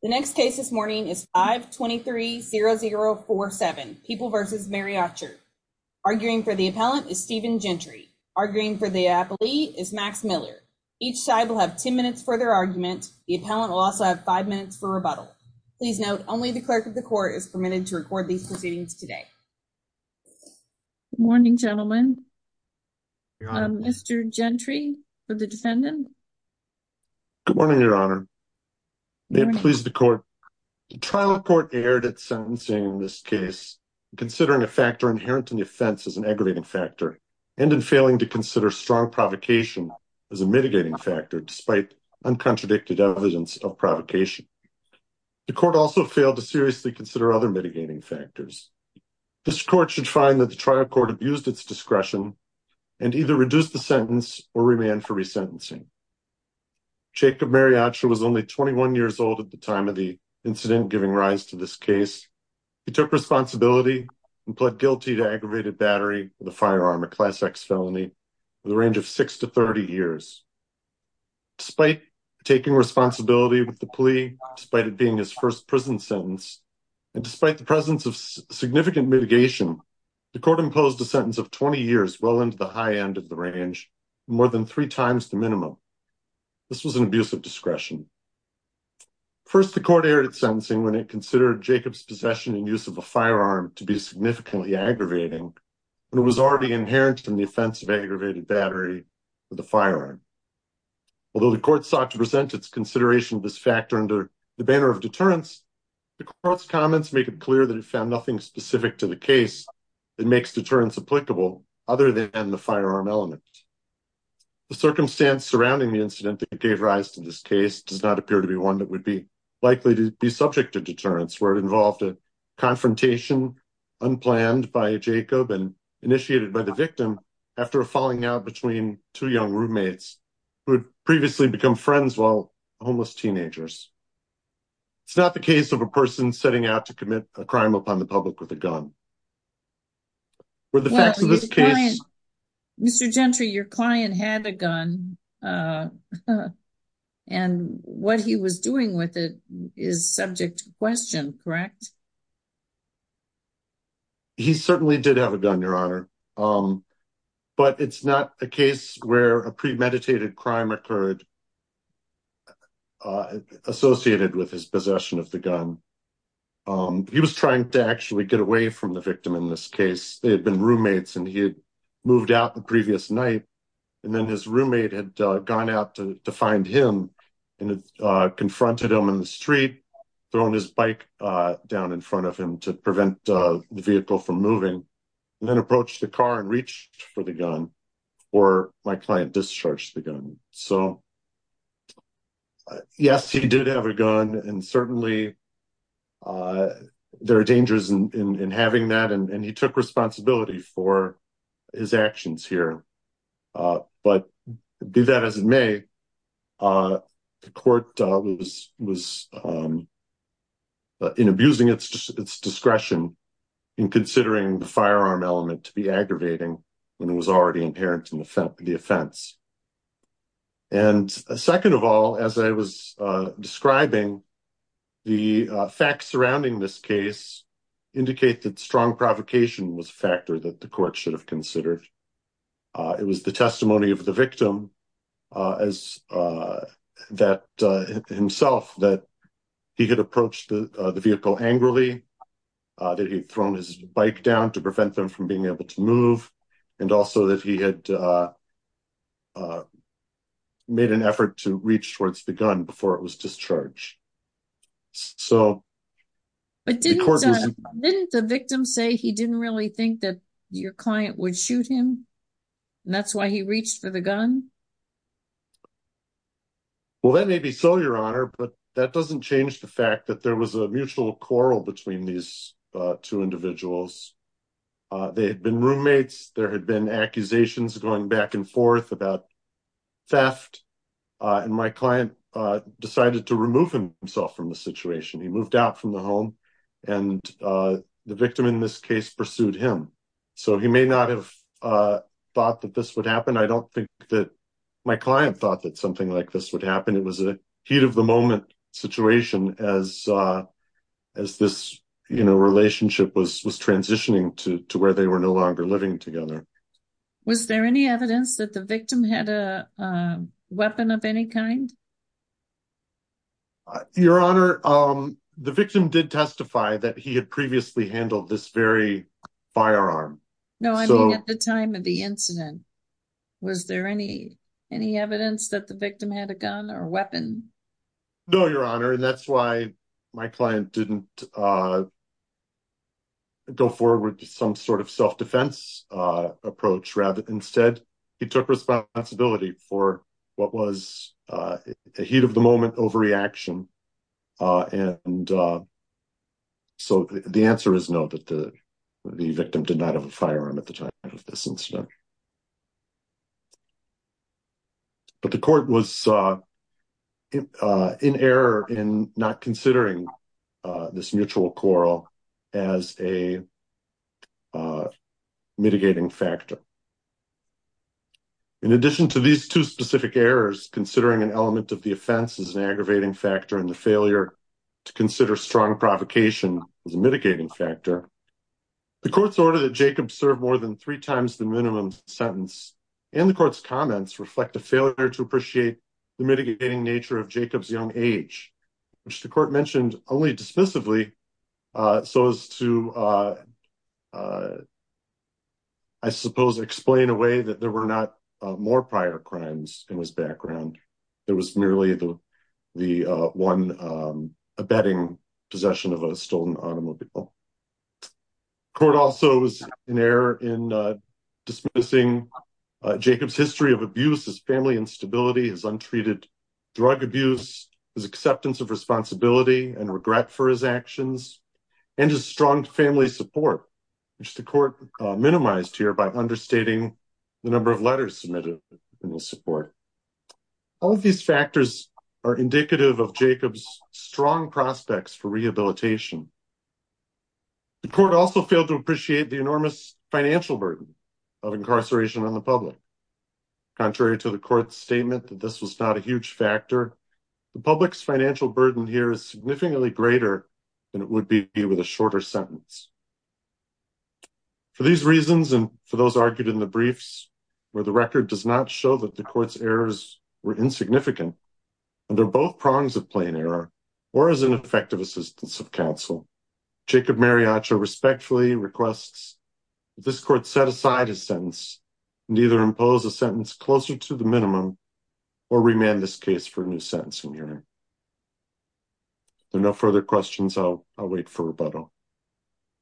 The next case this morning is 523-0047, People v. Mariacher. Arguing for the appellant is Stephen Gentry. Arguing for the appellee is Max Miller. Each side will have 10 minutes for their argument. The appellant will also have five minutes for rebuttal. Please note only the clerk of the court is permitted to record these proceedings today. Stephen Gentry Good morning, Your Honor. May it please the court. The trial court erred at sentencing in this case, considering a factor inherent in the offense as an aggravating factor, and in failing to consider strong provocation as a mitigating factor despite uncontradicted evidence of provocation. The court also failed to seriously consider other mitigating factors. This court should find that the trial court abused its discretion and either reduce the Jacob Mariacher was only 21 years old at the time of the incident giving rise to this case. He took responsibility and pled guilty to aggravated battery with a firearm, a Class X felony, for the range of 6 to 30 years. Despite taking responsibility with the plea, despite it being his first prison sentence, and despite the presence of significant mitigation, the court imposed a sentence of 20 years well into the high end of the range, more than three times the minimum. This was an abuse of discretion. First, the court erred at sentencing when it considered Jacob's possession and use of a firearm to be significantly aggravating when it was already inherent in the offense of aggravated battery with a firearm. Although the court sought to present its consideration of this factor under the banner of deterrence, the court's comments make it clear that it found nothing specific to the case that makes deterrence applicable other than the firearm element. The circumstance surrounding the incident that gave rise to this case does not appear to be one that would be likely to be subject to deterrence, where it involved a confrontation unplanned by Jacob and initiated by the victim after a falling out between two young roommates who had previously become friends while homeless teenagers. It's not the case of a person setting out to commit a crime upon the public with a gun. Mr. Gentry, your client had a gun and what he was doing with it is subject to question, correct? He certainly did have a gun, Your Honor, but it's not a case where a premeditated crime occurred associated with his possession of the gun. He was trying to actually get away from the victim in this case. They had been roommates and he had moved out the previous night and then his roommate had gone out to find him and confronted him in the street, throwing his bike down in front of him to prevent the vehicle from moving, and then approached the car and reached for the gun or my client discharged the gun. So, yes, he did have a gun and certainly there are dangers in having that and he took responsibility for his actions here, but be that as it may, the court was in abusing its discretion in considering the firearm element to be aggravating when it was already inherent in the offense. And second of all, as I was describing, the facts surrounding this case indicate that strong provocation was a factor that the court should have considered. It was the testimony of the victim himself that he had approached the vehicle angrily, that he had thrown his bike down to prevent them from being able to move, and also that he had made an effort to reach towards the gun before it was discharged. But didn't the victim say he didn't really think that your client would shoot him and that's why he reached for the gun? Well, that may be so, your honor, but that doesn't change the fact that there was a mutual quarrel between these two individuals. They had been roommates, there had been accusations going back and forth about theft, and my client decided to remove himself from the situation. He moved out from the home and the victim in this case pursued him. So, he may not have thought that this would my client thought that something like this would happen. It was a heat of the moment situation as this, you know, relationship was transitioning to where they were no longer living together. Was there any evidence that the victim had a weapon of any kind? Your honor, the victim did testify that he had previously handled this very Any evidence that the victim had a gun or weapon? No, your honor, and that's why my client didn't go forward with some sort of self-defense approach. Rather, instead, he took responsibility for what was a heat of the moment overreaction. And so, the answer is no, that the victim did not have a firearm at the time of this incident. But the court was in error in not considering this mutual quarrel as a mitigating factor. In addition to these two specific errors, considering an element of the offense as an aggravating factor and the failure to consider strong provocation as a mitigating factor, the court's order that Jacob served more than three times the minimum sentence and the court's failure to appreciate the mitigating nature of Jacob's young age, which the court mentioned only dismissively, so as to, I suppose, explain away that there were not more prior crimes in his background. It was merely the one abetting possession of a stolen automobile. The court also was in error in dismissing Jacob's history of abuse, his family instability, his untreated drug abuse, his acceptance of responsibility and regret for his actions, and his strong family support, which the court minimized here by understating the number of letters submitted in the support. All of these factors are indicative of Jacob's strong prospects for enormous financial burden of incarceration on the public. Contrary to the court's statement that this was not a huge factor, the public's financial burden here is significantly greater than it would be with a shorter sentence. For these reasons and for those argued in the briefs where the record does not show that the court's errors were insignificant, under both prongs of counsel, Jacob Mariachi respectfully requests that this court set aside a sentence and either impose a sentence closer to the minimum or remand this case for a new sentencing hearing. There are no further questions. I'll wait for rebuttal.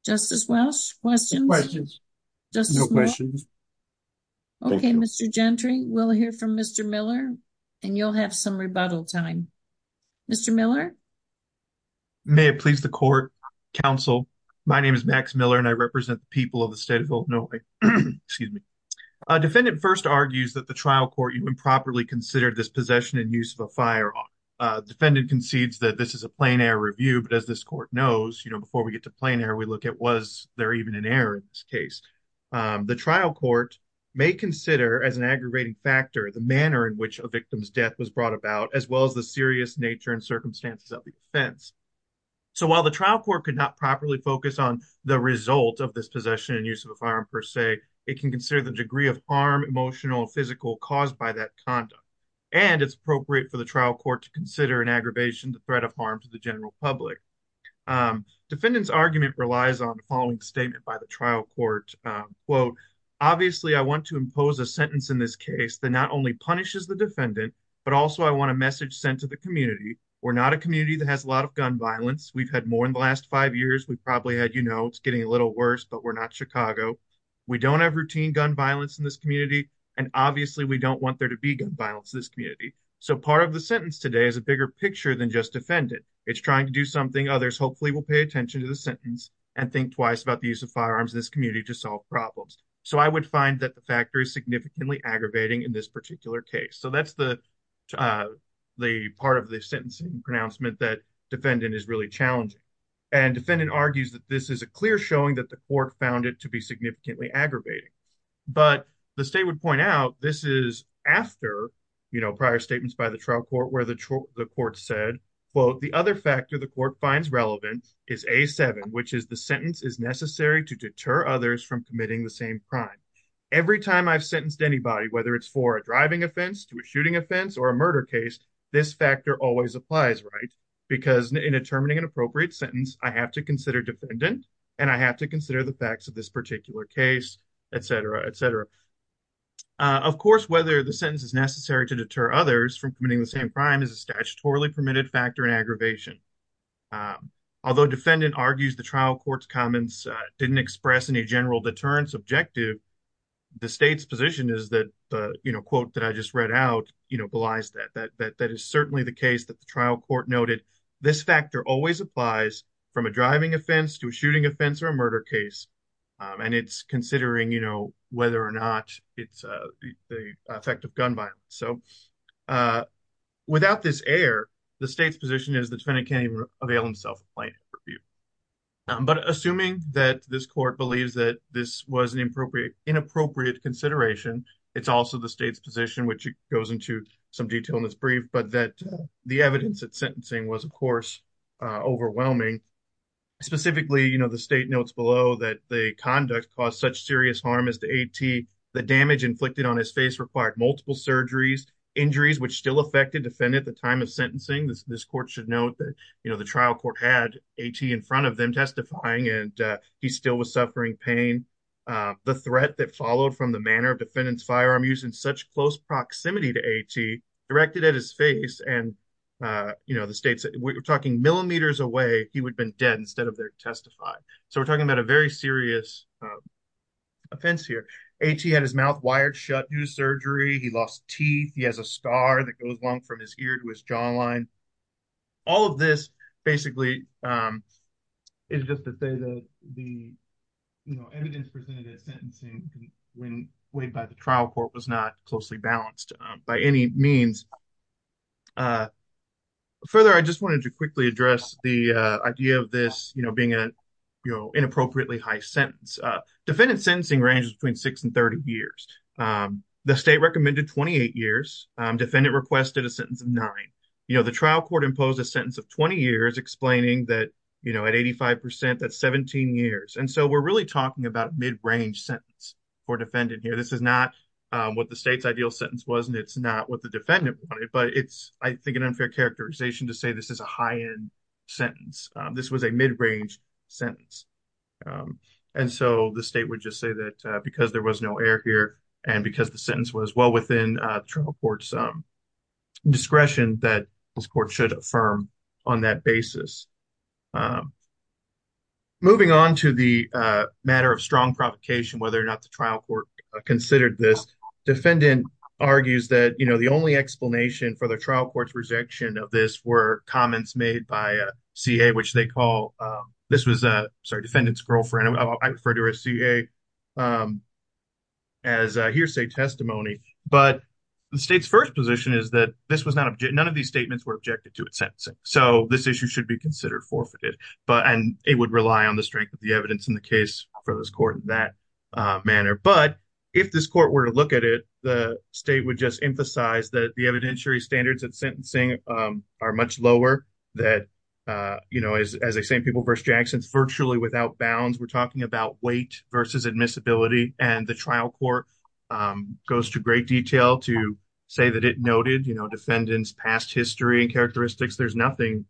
Justice Welsh, questions? No questions. Okay, Mr. Gentry, we'll hear from Mr. Miller and you'll have some rebuttal time. Mr. Miller? May it please the court, counsel, my name is Max Miller and I represent the people of the state of Illinois. Excuse me. A defendant first argues that the trial court improperly considered this possession and use of a firearm. Defendant concedes that this is a plain error review, but as this court knows, you know, before we get to plain error, we look at was there even an error in this case. The trial court may consider as an aggravating factor the manner in which a victim's as well as the serious nature and circumstances of the offense. So while the trial court could not properly focus on the result of this possession and use of a firearm per se, it can consider the degree of harm, emotional, physical caused by that conduct. And it's appropriate for the trial court to consider an aggravation, the threat of harm to the general public. Defendant's argument relies on the following statement by the trial court, obviously I want to impose a sentence in this case that not only punishes the defendant, but also I want a message sent to the community. We're not a community that has a lot of gun violence. We've had more in the last five years. We've probably had, you know, it's getting a little worse, but we're not Chicago. We don't have routine gun violence in this community. And obviously we don't want there to be gun violence in this community. So part of the sentence today is a bigger picture than just defendant. It's trying to do something. Others hopefully will pay attention to the sentence and think twice about the use of firearms in this community to solve problems. So I would find that the factor is significantly aggravating in particular case. So that's the part of the sentencing pronouncement that defendant is really challenging. And defendant argues that this is a clear showing that the court found it to be significantly aggravating. But the state would point out this is after, you know, prior statements by the trial court where the court said, quote, the other factor the court finds relevant is A7, which is the sentence is necessary to deter others from committing the same crime. Every time I've sentenced anybody, whether it's for a driving offense to a shooting offense or a murder case, this factor always applies, right? Because in determining an appropriate sentence, I have to consider defendant and I have to consider the facts of this particular case, et cetera, et cetera. Of course, whether the sentence is necessary to deter others from committing the same crime is a statutorily permitted factor in aggravation. Although defendant argues the trial court's comments didn't express any general deterrence objective, the state's position is that, you know, quote that I just read out, you know, belies that. That is certainly the case that the trial court noted. This factor always applies from a driving offense to a shooting offense or a murder case. And it's considering, you know, whether or not it's the effect of gun violence. So without this error, the state's position is the defendant can't even avail himself of plaintiff review. But assuming that this court believes that this was an inappropriate consideration, it's also the state's position, which goes into some detail in this brief, but that the evidence that sentencing was, of course, overwhelming. Specifically, you know, the state notes below that the conduct caused such serious harm as to A.T. The damage inflicted on his face required multiple surgeries, injuries, which still affected defendant at the time of sentencing. This court should note that, you know, the trial court had A.T. in front of them and he still was suffering pain. The threat that followed from the manner of defendant's firearm use in such close proximity to A.T. directed at his face and, you know, the state's talking millimeters away, he would have been dead instead of there to testify. So we're talking about a very serious offense here. A.T. had his mouth wired shut due to surgery. He lost teeth. He has a scar that goes along from his ear to his jawline. All of this basically is just to say that the evidence presented at sentencing when weighed by the trial court was not closely balanced by any means. Further, I just wanted to quickly address the idea of this, you know, being an inappropriately high sentence. Defendant's sentencing ranges between 6 and 30 years. The state recommended 28 years. Defendant requested a sentence of 9. You know, the trial court imposed a sentence of 20 years explaining that, you know, at 85 percent, that's 17 years. And so we're really talking about mid-range sentence for defendant here. This is not what the state's ideal sentence was and it's not what the defendant wanted, but it's, I think, an unfair characterization to say this is a high-end sentence. This was a mid-range sentence. And so the state would just say that because there was no error here and because the sentence was well within the trial court's discretion that this court should affirm on that basis. Moving on to the matter of strong provocation, whether or not the trial court considered this, defendant argues that, you know, the only explanation for the trial court's rejection of this were comments made by a C.A., which they call, this was, sorry, defendant's girlfriend. I refer to her as C.A. as hearsay testimony. But the state's first position is that this was not, none of these statements were objected to at sentencing. So this issue should be considered forfeited. And it would rely on the strength of the evidence in the case for this court in that manner. But if this court were to look at it, the state would just emphasize that the evidentiary standards at sentencing are much lower that, you know, as they say in People v. Jackson, it's virtually without bounds. We're talking about weight versus admissibility and the trial court goes to great detail to say that it noted, you know, defendant's past history and characteristics. There's nothing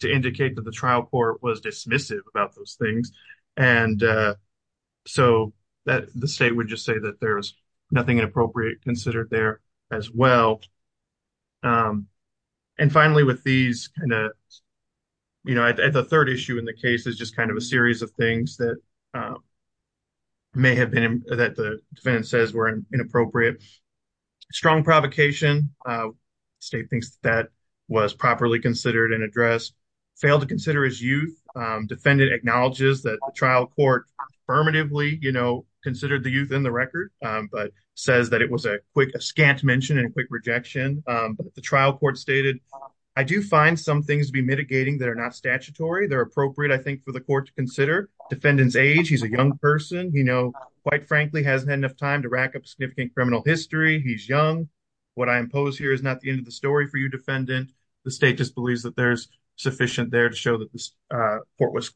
to indicate that the trial court was dismissive about those things. And so the state would just say that there's nothing inappropriate considered there as well. And finally, with these kind of, you know, the third issue in the case is just kind of a series of things that may have been, that the defendant says were inappropriate. Strong provocation, state thinks that was properly considered and addressed. Failed to consider his youth, defendant acknowledges that the trial court affirmatively, you know, considered the youth in the record, but says that it was a quick, scant mention and a quick rejection. The trial court stated, I do find some things to be mitigating that are not statutory. They're appropriate, I think, for the court to consider. Defendant's age, he's a young person, you know, quite frankly, hasn't had enough time to rack up significant criminal history. He's young. What I impose here is not the end of the story for you, defendant. The state just believes that there's sufficient there to show that this court was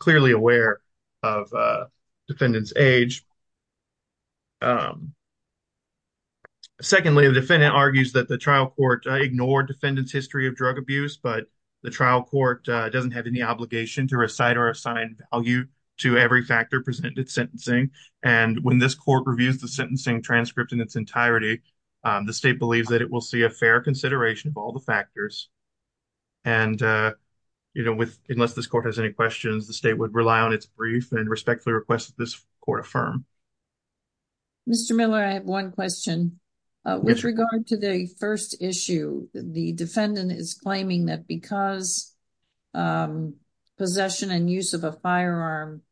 that the trial court ignored defendant's history of drug abuse, but the trial court doesn't have any obligation to recite or assign value to every factor presented sentencing. And when this court reviews the sentencing transcript in its entirety, the state believes that it will see a fair consideration of all the factors. And, you know, with, unless this court has any questions, the state would rely on its brief and respectfully request that this court affirm. Mr. Miller, I have one question. With regard to the first issue, the defendant is claiming that because possession and use of a firearm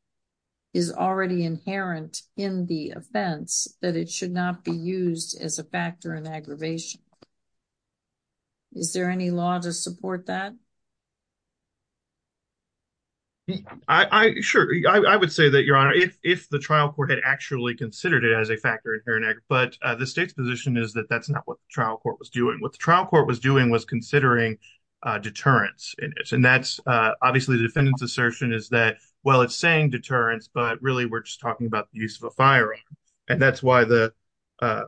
is already inherent in the offense, that it should not be used as a factor in aggravation. Is there any law to support that? I, sure, I would say that, Your Honor, if the trial court had actually considered it as a factor inherent, but the state's position is that that's not what the trial court was doing. What the trial court was doing was considering deterrence in it. And that's, obviously, the defendant's assertion is that, well, it's saying deterrence, but really we're just talking about the use of a firearm. And that's why the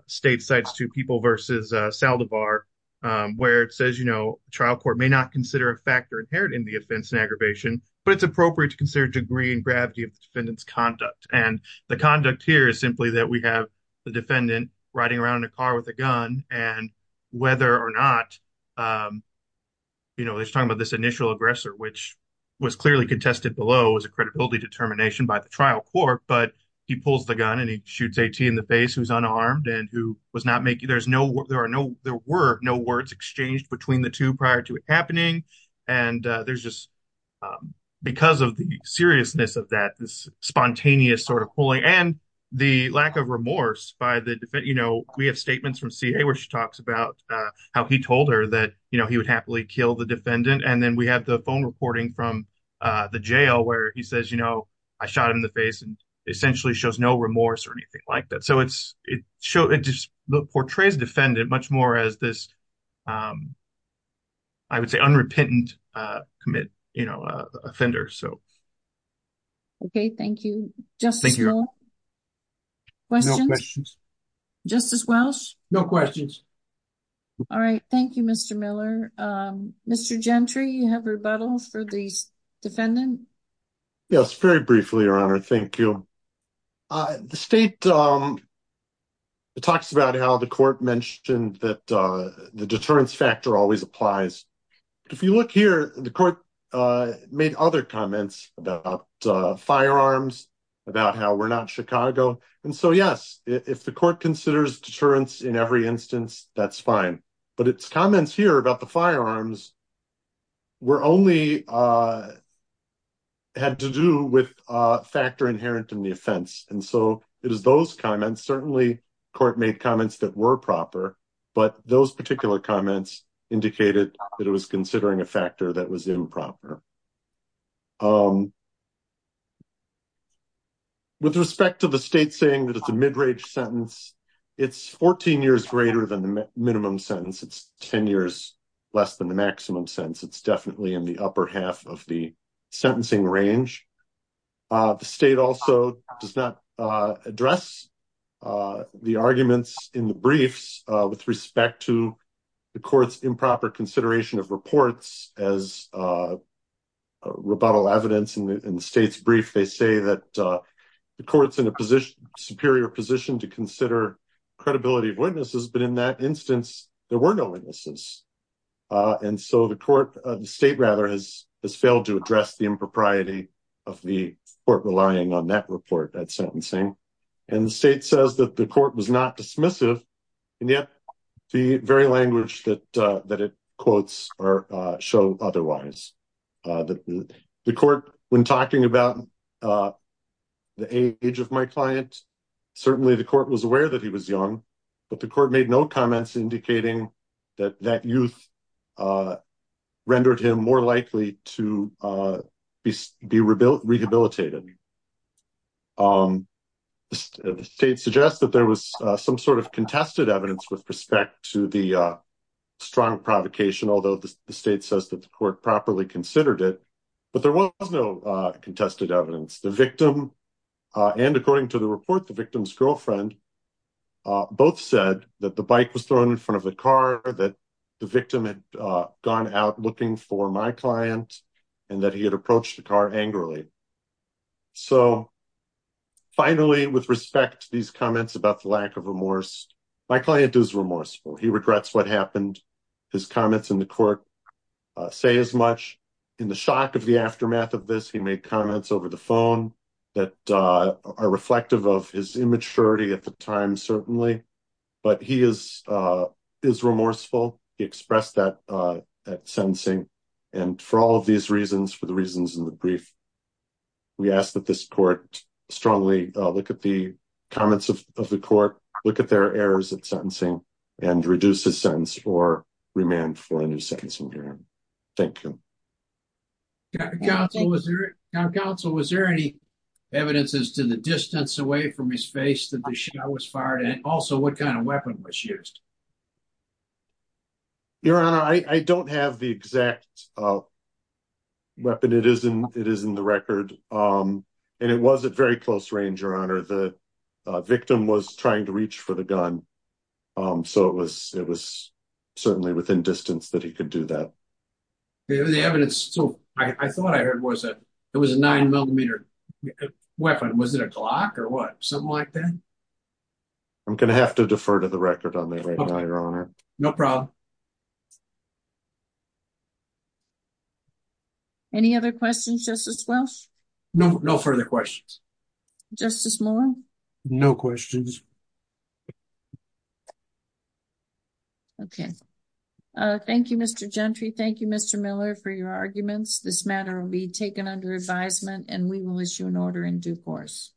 state cites two people versus Saldivar, where it says, you know, trial court may not consider a factor inherent in the offense and aggravation, but it's appropriate to consider degree and gravity of the defendant's conduct. And the conduct here is simply that we have the defendant riding around in a car with a gun and whether or not, you know, they're talking about this initial aggressor, which was clearly contested below as a credibility determination by the trial court, but he pulls the gun and he shoots AT in the face who's unarmed and who was not making, there's no, there are no, there were no words exchanged between the two prior to it happening. And there's just, because of the seriousness of that, this spontaneous sort of pulling and the lack of remorse by the defendant, you know, we have statements from CA where she talks about how he told her that, you know, he would happily kill the defendant. And then we have the phone reporting from the jail where he says, you know, I shot him in the face and essentially shows no remorse or anything like that. So it's, it shows, it just portrays defendant much more as this, um, I would say unrepentant, uh, commit, you know, uh, offender. So. Okay. Thank you. Just questions. Justice Welch. No questions. All right. Thank you, Mr. Miller. Um, Mr. Gentry, you have rebuttal for these defendants. Yes. Very briefly, your honor. Thank you. Uh, the state, um, it talks about how the court mentioned that, uh, the deterrence factor always applies. If you look here, the court, uh, made other comments about, uh, firearms, about how we're not in Chicago. And so, yes, if the court considers deterrence in every instance, that's fine, but it's comments here about the had to do with a factor inherent in the offense. And so it is those comments, certainly court made comments that were proper, but those particular comments indicated that it was considering a factor that was improper. Um, with respect to the state saying that it's a mid range sentence, it's 14 years greater than the minimum sentence. It's 10 years less than the maximum sentence. It's definitely in the upper half of the sentencing range. Uh, the state also does not, uh, address, uh, the arguments in the briefs, uh, with respect to the court's improper consideration of reports as, uh, rebuttal evidence in the state's brief. They say that, uh, the court's in a position superior position to consider credibility of witnesses. But in that instance, there were no witnesses. Uh, and so the court, uh, the state rather has, has failed to address the impropriety of the court relying on that report at sentencing. And the state says that the court was not dismissive and yet the very language that, uh, that it quotes or, uh, show otherwise, uh, the court when talking about, uh, the age of my client, certainly the court was that that youth, uh, rendered him more likely to, uh, be rebuilt, rehabilitated. Um, the state suggests that there was some sort of contested evidence with respect to the, uh, strong provocation, although the state says that the court properly considered it, but there was no, uh, contested evidence. The victim, uh, and according to the report, the victim's girlfriend, uh, both said that the bike was thrown in front of the car that the victim had, uh, gone out looking for my client and that he had approached the car angrily. So finally, with respect to these comments about the lack of remorse, my client is remorseful. He regrets what happened. His comments in the court, uh, say as much in the shock of the aftermath of this, he made comments over the phone that, uh, are reflective of his immaturity at the time, certainly, but he is, uh, is remorseful. He expressed that, uh, at sentencing and for all of these reasons, for the reasons in the brief, we ask that this court strongly look at the comments of the court, look at their errors at sentencing and reduce the sentence or man for a new sentence. Thank you. Council was there. Council, was there any evidences to the distance away from his face that the show was fired? And also what kind of weapon was used? Your honor. I don't have the exact, uh, weapon. It isn't, it isn't the record. Um, and it wasn't very close range. Your honor. The victim was trying to reach for the gun. Um, it was certainly within distance that he could do that. The evidence. So I thought I heard was that it was a nine millimeter weapon. Was it a clock or what? Something like that. I'm going to have to defer to the record on that. Your honor. No problem. Any other questions? Just as well. No, no further questions. Just as more. No questions. Okay. Uh, thank you, Mr. Gentry. Thank you, Mr. Miller for your arguments. This matter will be taken under advisement and we will issue an order in due course.